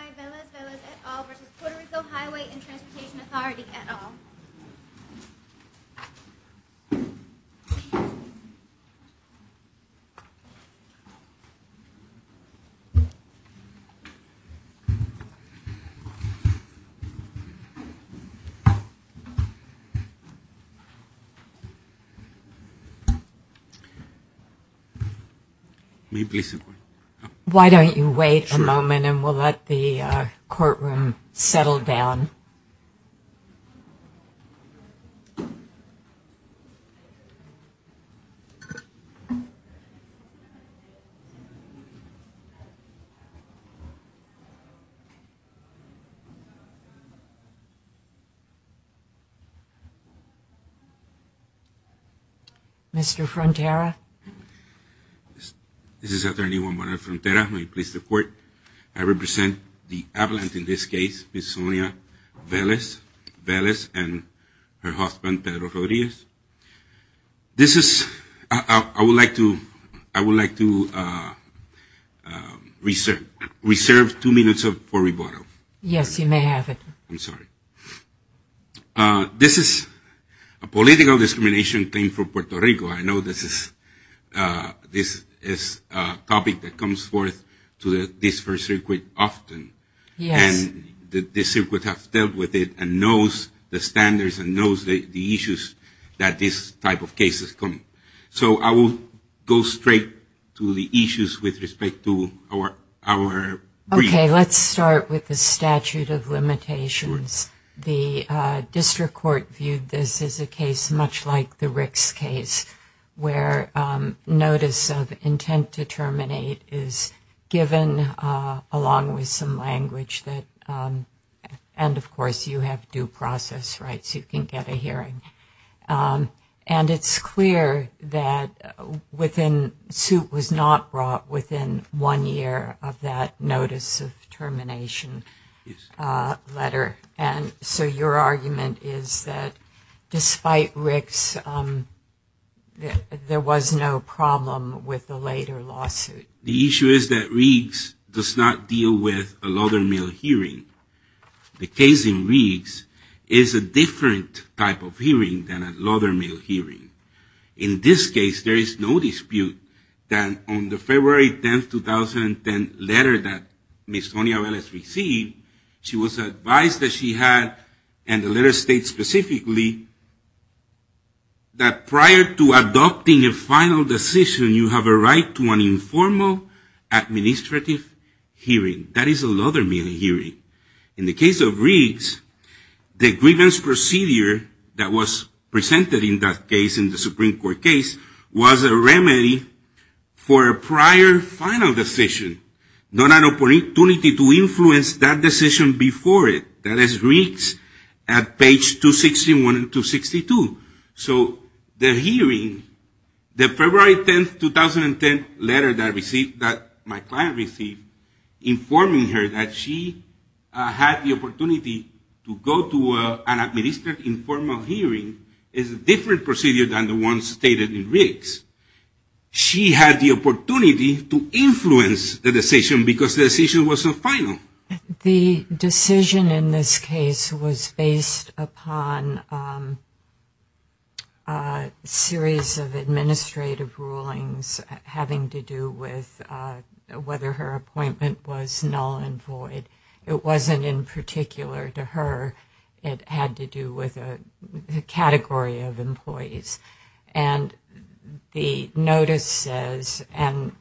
Hi, Velez-Velez et al. v. Puerto Rico Highway and Transportation Authority et al. May I please sit down? Why don't you wait a moment and we'll let the courtroom settle down. Mr. Frontera. This is Attorney Juan Morales Frontera. May I please report? I represent the appellant in this case, Ms. Sonia Velez-Velez and her husband, Pedro Rodríguez. This is, I would like to, I would like to reserve two minutes for rebuttal. Yes, you may have it. I'm sorry. This is a political discrimination claim for Puerto Rico. I know this is a topic that comes forth to this first circuit often. Yes. And this circuit has dealt with it and knows the standards and knows the issues that this type of case is coming. So I will go straight to the issues with respect to our brief. Okay, let's start with the statute of limitations. The district court viewed this as a case much like the Rick's case where notice of intent to terminate is given along with some language that, and of course, you have due process rights, you can get a hearing. And it's clear that within, suit was not brought within one year of that notice of termination letter. And so your argument is that despite Rick's, there was no problem with the later lawsuit. The issue is that Rick's does not deal with a lottermail hearing. The case in Rick's is a different type of hearing than a lottermail hearing. In this case, there is no dispute that on the February 10, 2010 letter that Ms. Sonia Velez received, she was advised that she had, and the letter states specifically, that prior to adopting a final decision, you have a right to an informal administrative hearing. That is a lottermail hearing. In the case of Rick's, the grievance procedure that was presented in that case, in the Supreme Court case, was a remedy for a prior final decision, not an opportunity to influence that decision before it. That is Rick's at page 261 and 262. So the hearing, the February 10, 2010 letter that I received, that my client received, informing her that she had the opportunity to go to an administrative informal hearing is a different procedure than the one stated in Rick's. She had the opportunity to influence the decision because the decision wasn't final. The decision in this case was based upon a series of administrative rulings having to do with whether her appointment was null and void. It wasn't in particular to her. It had to do with a category of employees. The notice says, and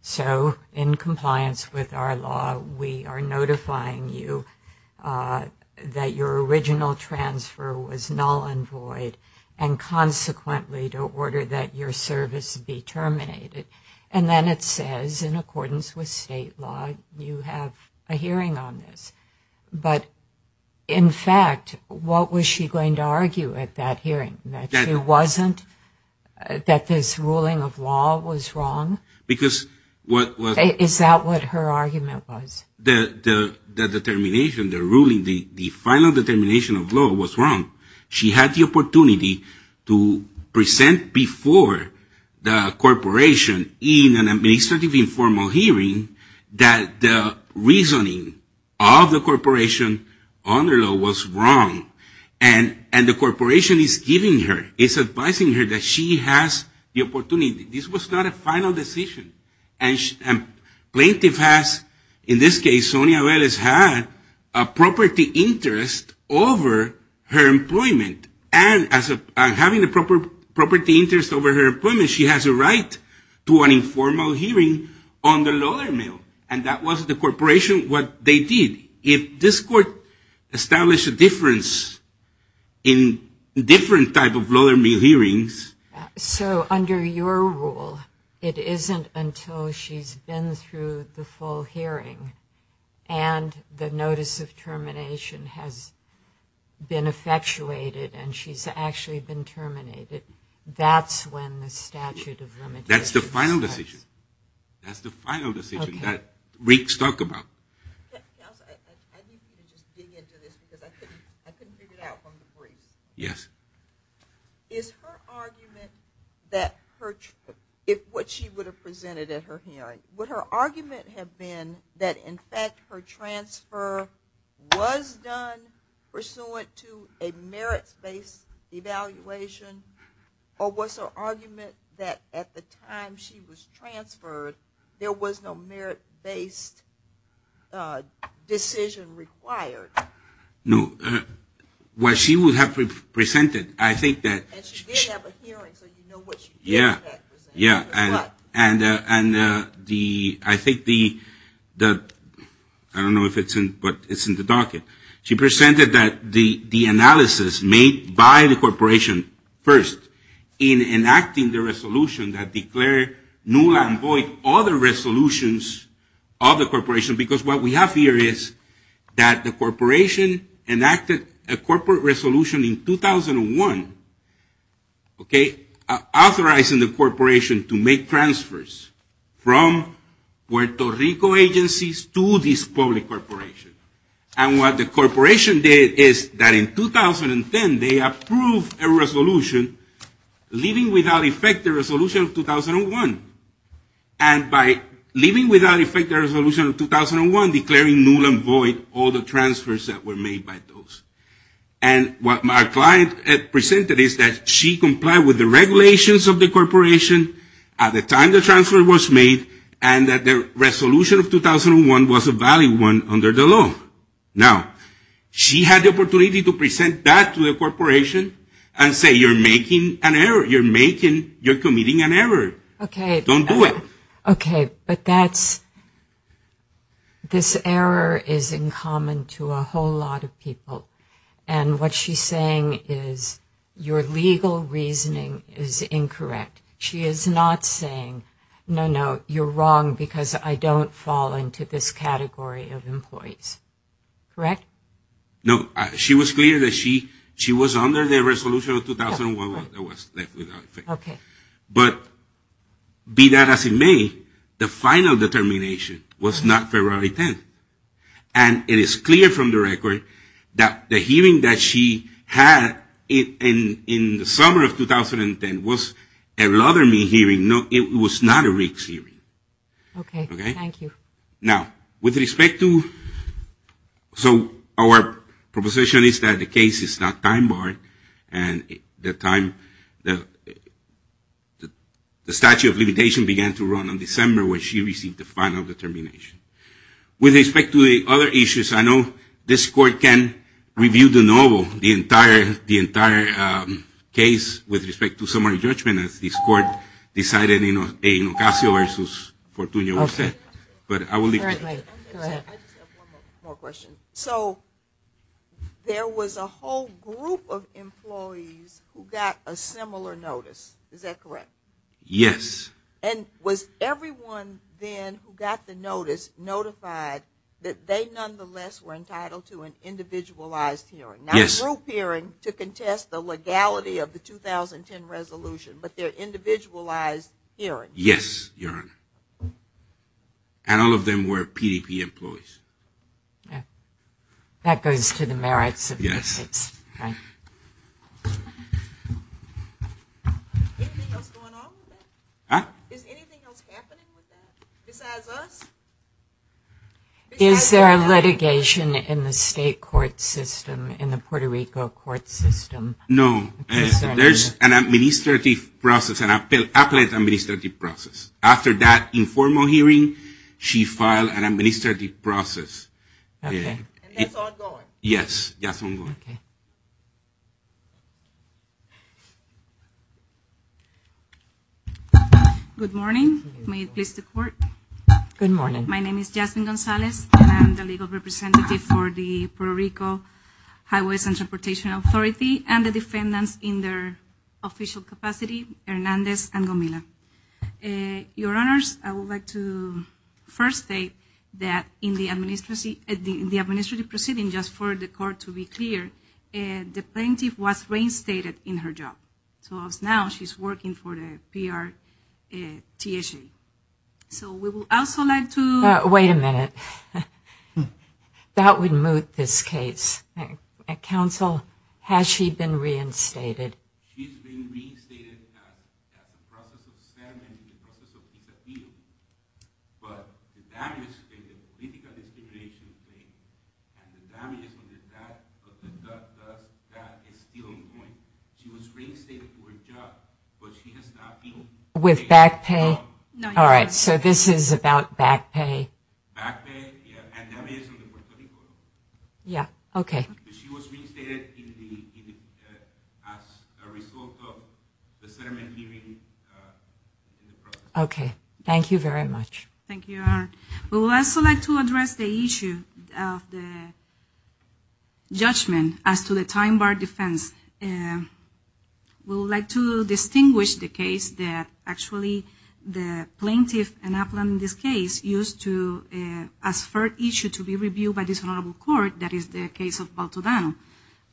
so in compliance with our law, we are notifying you that your original transfer was null and void and consequently to order that your service be terminated. Then it says, in accordance with state law, you have a hearing on this. But in fact, what was she going to argue at that hearing? That this ruling of law was wrong? Is that what her argument was? That the determination, the ruling, the final determination of law was wrong. She had the opportunity to present before the corporation in an administrative informal hearing that the reasoning of the corporation on the law was wrong and the corporation is giving her, is advising her that she has the opportunity. This was not a final decision. And plaintiff has, in this case, Sonia Velez, had a property interest over her employment. And as having a property interest over her employment, she has a right to an informal hearing on the Lothar Mill and that was the corporation, what they did. If this court established a difference in different type of Lothar Mill hearings. So under your rule, it isn't until she's been through the full hearing and the notice of termination has been effectuated and she's actually been terminated, that's when the statute of limitations is passed. That's the final decision. That's the final decision that reeks talk about. I need you to just dig into this because I couldn't figure it out from the briefs. Yes. Is her argument that what she would have presented at her hearing, would her argument have been that in fact her transfer was done pursuant to a merits-based evaluation or was her argument that at the time she was transferred, there was no merit-based decision required? No. What she would have presented, I think that. And she did have a hearing so you know what she did. Nula and Boyd, other resolutions of the corporation because what we have here is that the corporation enacted a corporate resolution in 2001, okay, authorizing the corporation to make transfers from Puerto Rico agencies to this public corporation. And what the corporation did is that in 2010 they approved a resolution leaving without effect the resolution of 2001. And by leaving without effect the resolution of 2001 declaring Nula and Boyd all the transfers that were made by those. And what my client presented is that she complied with the regulations of the corporation at the time the transfer was made and that the resolution of 2001 was a valid one under the law. Now, she had the opportunity to present that to the corporation and say you're making an error. You're committing an error. Okay. Don't do it. Okay. But that's, this error is in common to a whole lot of people. And what she's saying is your legal reasoning is incorrect. She is not saying no, no, you're wrong because I don't fall into this category of employees. Correct? No. She was clear that she was under the resolution of 2001 that was left without effect. Okay. But be that as it may, the final determination was not February 10th. And it is clear from the record that the hearing that she had in the summer of 2010 was a lottery hearing. It was not a rigged hearing. Okay. Thank you. Now, with respect to, so our proposition is that the case is not time barred and the statute of limitation began to run on December when she received the final determination. With respect to the other issues, I know this court can review the novel, the entire case with respect to summary judgment as this court decided in Ocasio-Versus-Fortunio was set. But I will leave it there. Go ahead. I just have one more question. So there was a whole group of employees who got a similar notice. Is that correct? Yes. And was everyone then who got the notice notified that they nonetheless were entitled to an individualized hearing? Yes. And all of them were PDP employees. That goes to the merits of the case. Yes. Anything else going on with that? Huh? Is anything else happening with that? Besides us? Is there a litigation in the state court system in the Puerto Rico case? No. There's an administrative process, an appellate administrative process. After that informal hearing, she filed an administrative process. Okay. And that's ongoing? Yes. That's ongoing. Okay. Good morning. May it please the court? Good morning. My name is Jasmine Gonzalez. I'm the legal representative for the Puerto Rico Highways and Transportation Authority and the defendants in their official capacity, Hernandez and Gomila. Your Honors, I would like to first state that in the administrative proceeding, just for the court to be clear, the plaintiff was reinstated in her job. So now she's working for the PRTSA. So we will also like to ---- Wait a minute. That would moot this case. Counsel, has she been reinstated? She's been reinstated at the process of the settlement, the process of disappeal. But the damage stated, the political distribution of the state and the damages on the debt of the debtor, that is still ongoing. She was reinstated for her job, but she has not been ---- With back pay? No. All right. So this is about back pay. Back pay, yeah, and damages in the Puerto Rico. Yeah. Okay. She was reinstated as a result of the settlement hearing in the process. Okay. Thank you very much. Thank you, Your Honor. We would also like to address the issue of the judgment as to the time bar defense. We would like to distinguish the case that actually the plaintiff, in this case, used to ask for an issue to be reviewed by this honorable court, that is the case of Baltodano.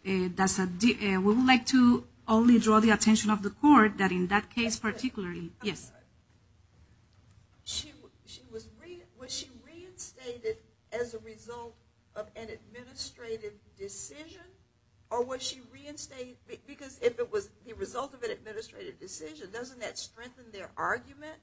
We would like to only draw the attention of the court that in that case, particularly ---- Yes. Was she reinstated as a result of an administrative decision, or was she reinstated because if it was the result of an administrative decision, doesn't that strengthen their argument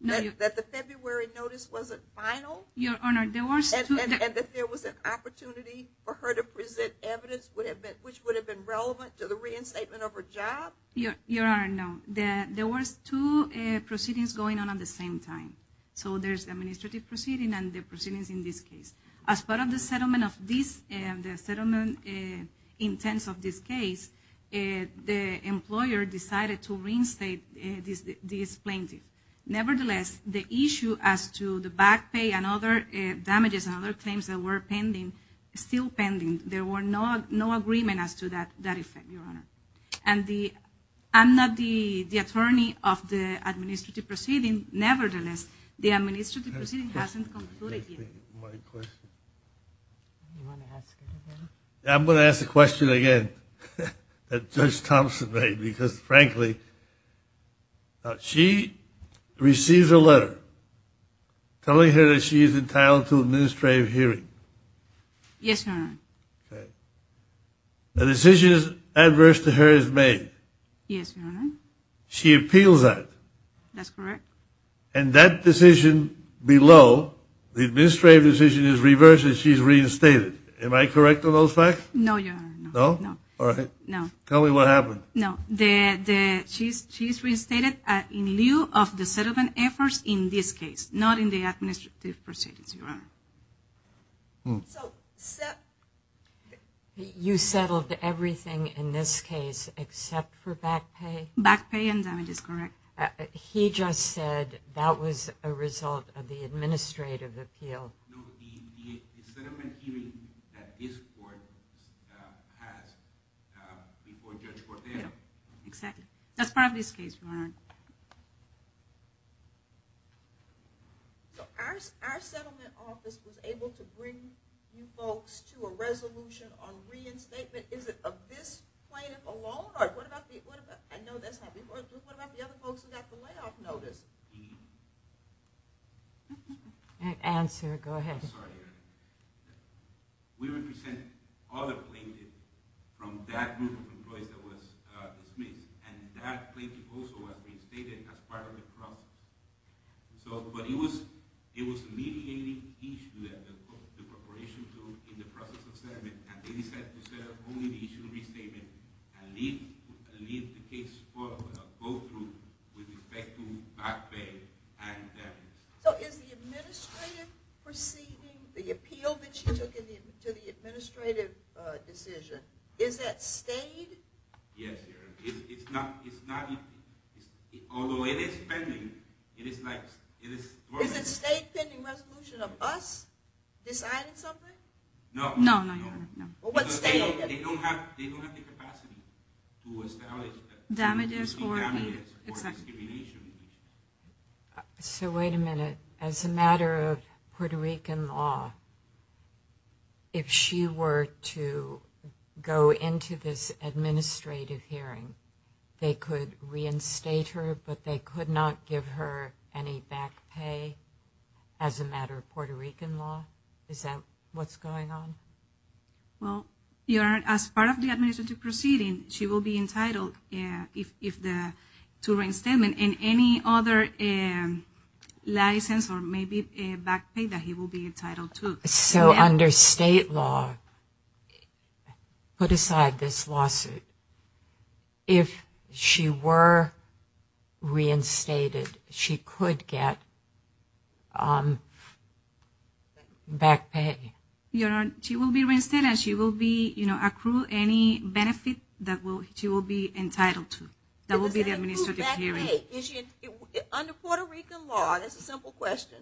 that the February notice wasn't final? Your Honor, there was two ---- And that there was an opportunity for her to present evidence which would have been relevant to the reinstatement of her job? Your Honor, no. There was two proceedings going on at the same time. So there's administrative proceeding and the proceedings in this case. As part of the settlement of this, the settlement intents of this case, the employer decided to reinstate this plaintiff. Nevertheless, the issue as to the back pay and other damages and other claims that were pending, still pending, there were no agreement as to that effect, Your Honor. And I'm not the attorney of the administrative proceeding. Nevertheless, the administrative proceeding hasn't concluded yet. Thank you. I'm going to ask the question again that Judge Thompson made because, frankly, she receives a letter telling her that she is entitled to an administrative hearing. Yes, Your Honor. A decision as adverse to her is made. Yes, Your Honor. She appeals that. That's correct. And that decision below, the administrative decision is reversed and she's reinstated. Am I correct on those facts? No, Your Honor. No? No. All right. Tell me what happened. No. She's reinstated in lieu of the settlement efforts in this case, not in the administrative proceedings, Your Honor. You settled everything in this case except for back pay? Back pay and damages, correct. He just said that was a result of the administrative appeal. No, the settlement hearing that this court has before Judge Cortez. Exactly. That's part of this case, Your Honor. Our settlement office was able to bring you folks to a resolution on reinstatement. Is it of this plaintiff alone? I know that's not the whole group. What about the other folks who got the layoff notice? Answer. Go ahead. I'm sorry, Your Honor. We represent other plaintiffs from that group of employees that was dismissed, and that plaintiff also has been stated as part of the problem. But it was a mediating issue that the preparation took in the process of settlement, and they decided to set up only the issue of restatement and leave the case go through with respect to back pay and damages. So is the administrative proceeding, the appeal that you took to the administrative decision, is that stayed? Yes, Your Honor. It's not. Although it is pending. Is it a state pending resolution of us deciding something? No. They don't have the capacity to establish damages for discrimination. So wait a minute. As a matter of Puerto Rican law, if she were to go into this administrative hearing, they could reinstate her, but they could not give her any back pay as a matter of Puerto Rican law? Is that what's going on? Well, Your Honor, as part of the administrative proceeding, she will be entitled to reinstatement, and any other license or maybe back pay that he will be entitled to. So under state law, put aside this lawsuit. If she were reinstated, she could get back pay? Your Honor, she will be reinstated, and she will accrue any benefit that she will be entitled to. That will be the administrative hearing. Under Puerto Rican law, that's a simple question.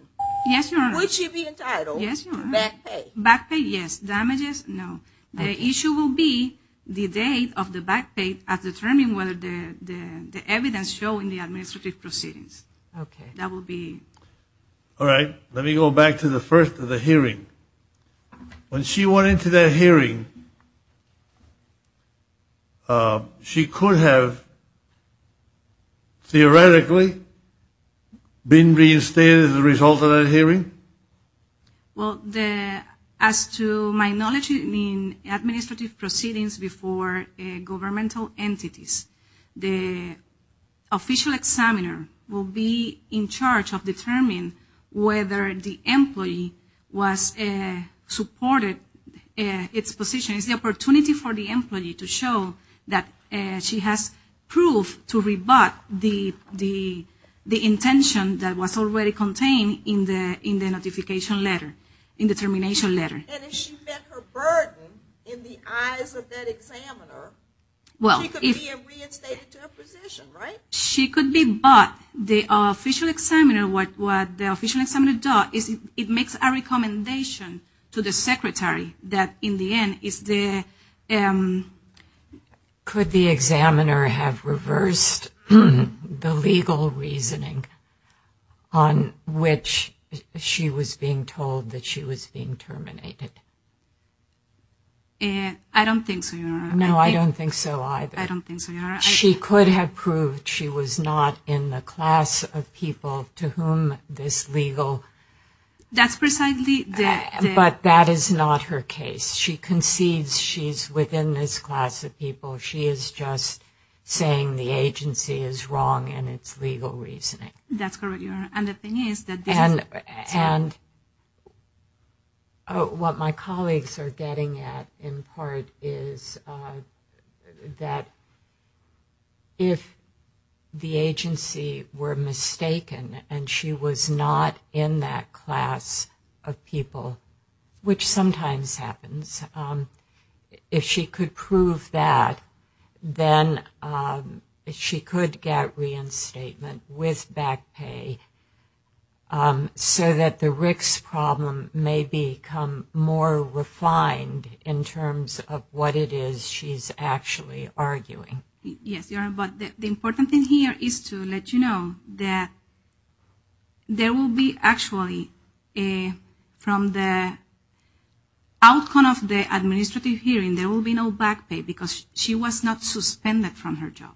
Yes, Your Honor. Would she be entitled to back pay? Back pay, yes. Damages, no. The issue will be the date of the back pay at determining whether the evidence showing the administrative proceedings. That will be. All right. Let me go back to the first of the hearing. When she went into that hearing, Well, as to my knowledge in administrative proceedings before governmental entities, the official examiner will be in charge of determining whether the employee supported its position. It's the opportunity for the employee to show that she has proof to rebut the intention that was already contained in the notification letter, in the termination letter. And if she met her burden in the eyes of that examiner, she could be reinstated to a position, right? She could be, but the official examiner, what the official examiner does is it makes a recommendation to the secretary that in the end it's the Could the examiner have reversed the legal reasoning on which she was being told that she was being terminated? I don't think so, Your Honor. No, I don't think so either. I don't think so, Your Honor. She could have proved she was not in the class of people to whom this legal That's precisely the But that is not her case. She concedes she's within this class of people. She is just saying the agency is wrong in its legal reasoning. That's correct, Your Honor. And the thing is that this And what my colleagues are getting at in part is that if the agency were mistaken and she was not in that class of people, which sometimes happens, if she could prove that, then she could get reinstatement with back pay so that the RICS problem may become more refined in terms of what it is she's actually arguing. Yes, Your Honor. But the important thing here is to let you know that there will be actually from the outcome of the administrative hearing, there will be no back pay because she was not suspended from her job.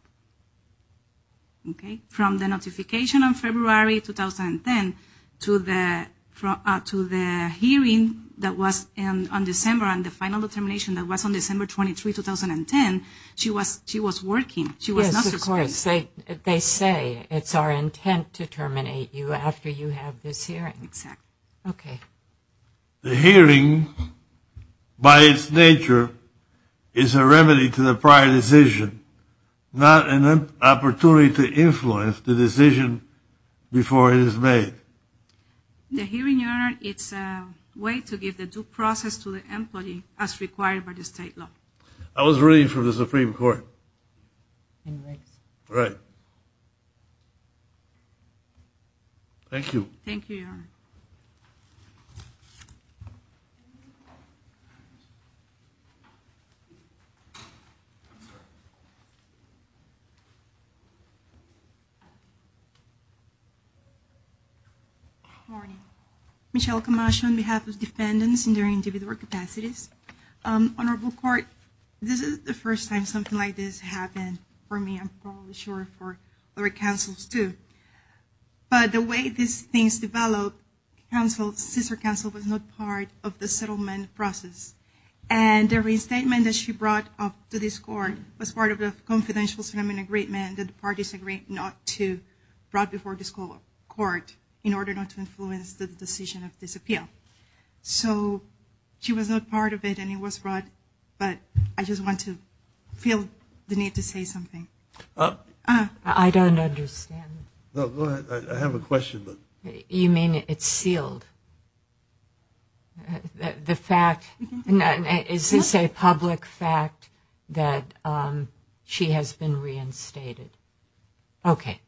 From the notification on February 2010 to the hearing that was on December and the final determination that was on December 23, 2010, she was working. She was not suspended. Yes, of course. They say it's our intent to terminate you after you have this hearing. Exactly. Okay. The hearing, by its nature, is a remedy to the prior decision, not an opportunity to influence the decision before it is made. The hearing, Your Honor, it's a way to give the due process to the employee as required by the state law. I was ruling for the Supreme Court. In RICS. Right. Thank you. Thank you, Your Honor. Good morning. Michelle Camacho on behalf of defendants in their individual capacities. Honorable Court, this is the first time something like this happened for me. I'm probably sure for other counsels, too. But the way these things develop, Counsel, Sister Counsel was not part of the settlement process. And every statement that she brought up to this Court was part of the confidential settlement agreement that the parties agreed not to brought before this Court in order not to influence the decision of this appeal. Okay. So she was not part of it and it was brought, but I just want to feel the need to say something. I don't understand. I have a question. You mean it's sealed? The fact, is this a public fact that she has been reinstated? Okay.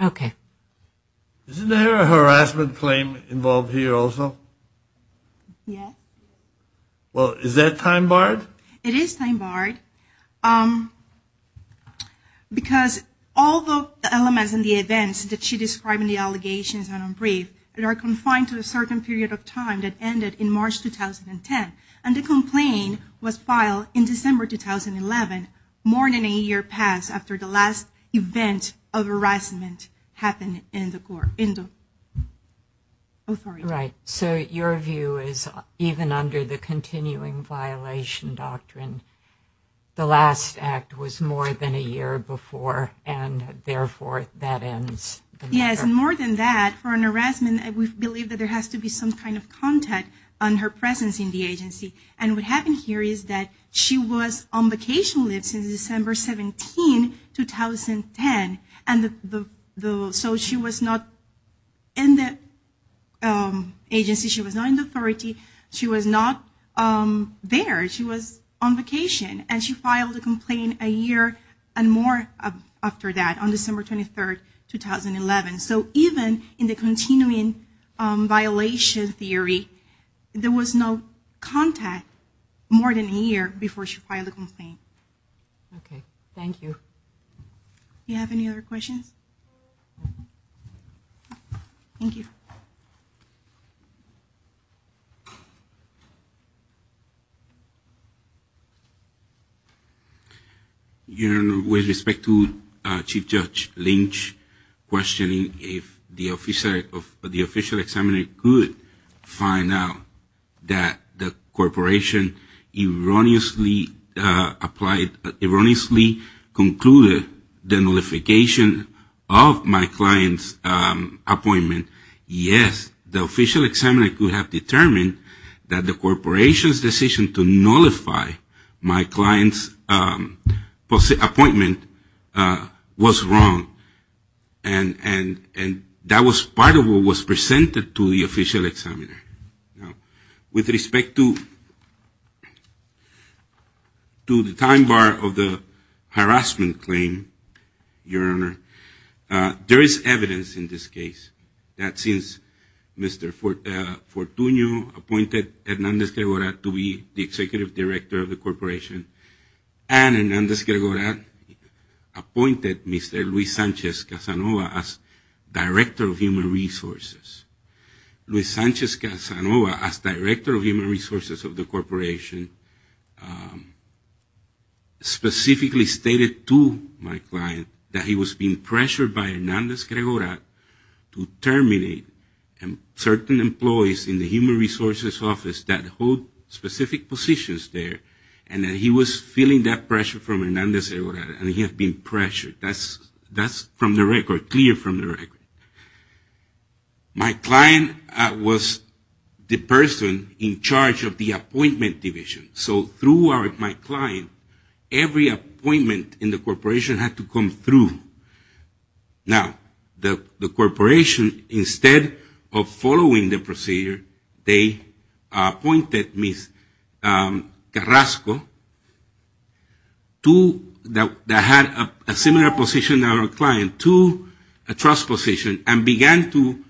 Okay. Isn't there a harassment claim involved here also? Yes. Well, is that time barred? It is time barred because all the elements and the events that she described in the allegations are not brief. They are confined to a certain period of time that ended in March 2010. And the complaint was filed in December 2011, more than a year passed after the last event of harassment happened in the court, in the authority. Right. So your view is even under the continuing violation doctrine, the last act was more than a year before, and therefore that ends the matter. Yes, and more than that, for an harassment, we believe that there has to be some kind of contact on her presence in the agency. And what happened here is that she was on vacation leave since December 17, 2010. And so she was not in the agency. She was not in the authority. She was not there. She was on vacation. And she filed a complaint a year and more after that, on December 23, 2011. So even in the continuing violation theory, there was no contact more than a year before she filed a complaint. Okay. Thank you. Do you have any other questions? Thank you. Okay. With respect to Chief Judge Lynch questioning if the official examiner could find out that the corporation erroneously applied, erroneously concluded the nullification of my client's appointment, yes, the official examiner could have determined that the corporation's decision to nullify my client's appointment was wrong. And that was part of what was presented to the official examiner. With respect to the time bar of the harassment claim, Your Honor, there is evidence in this case that since Mr. Fortunio appointed Hernandez-Gregorat to be the executive director of the corporation, and Hernandez-Gregorat appointed Mr. Luis Sanchez-Casanova as director of human resources, Luis Sanchez-Casanova as director of human resources of the corporation specifically stated to my client that he was being pressured by Hernandez-Gregorat to terminate certain employees in the human resources office that hold specific positions there, and that he was feeling that pressure from Hernandez-Gregorat and he had been pressured. That's from the record, clear from the record. My client was the person in charge of the appointment division. So through my client, every appointment in the corporation had to come through. Now, the corporation, instead of following the procedure, they appointed Ms. Carrasco, that had a similar position to our client, to a trust position and began to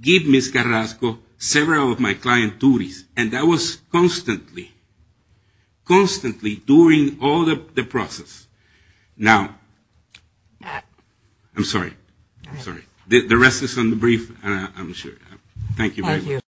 give Ms. Carrasco several of my client duties. And that was constantly, constantly during all of the process. Now, I'm sorry. I'm sorry. I'm sure. Thank you very much. Thank you.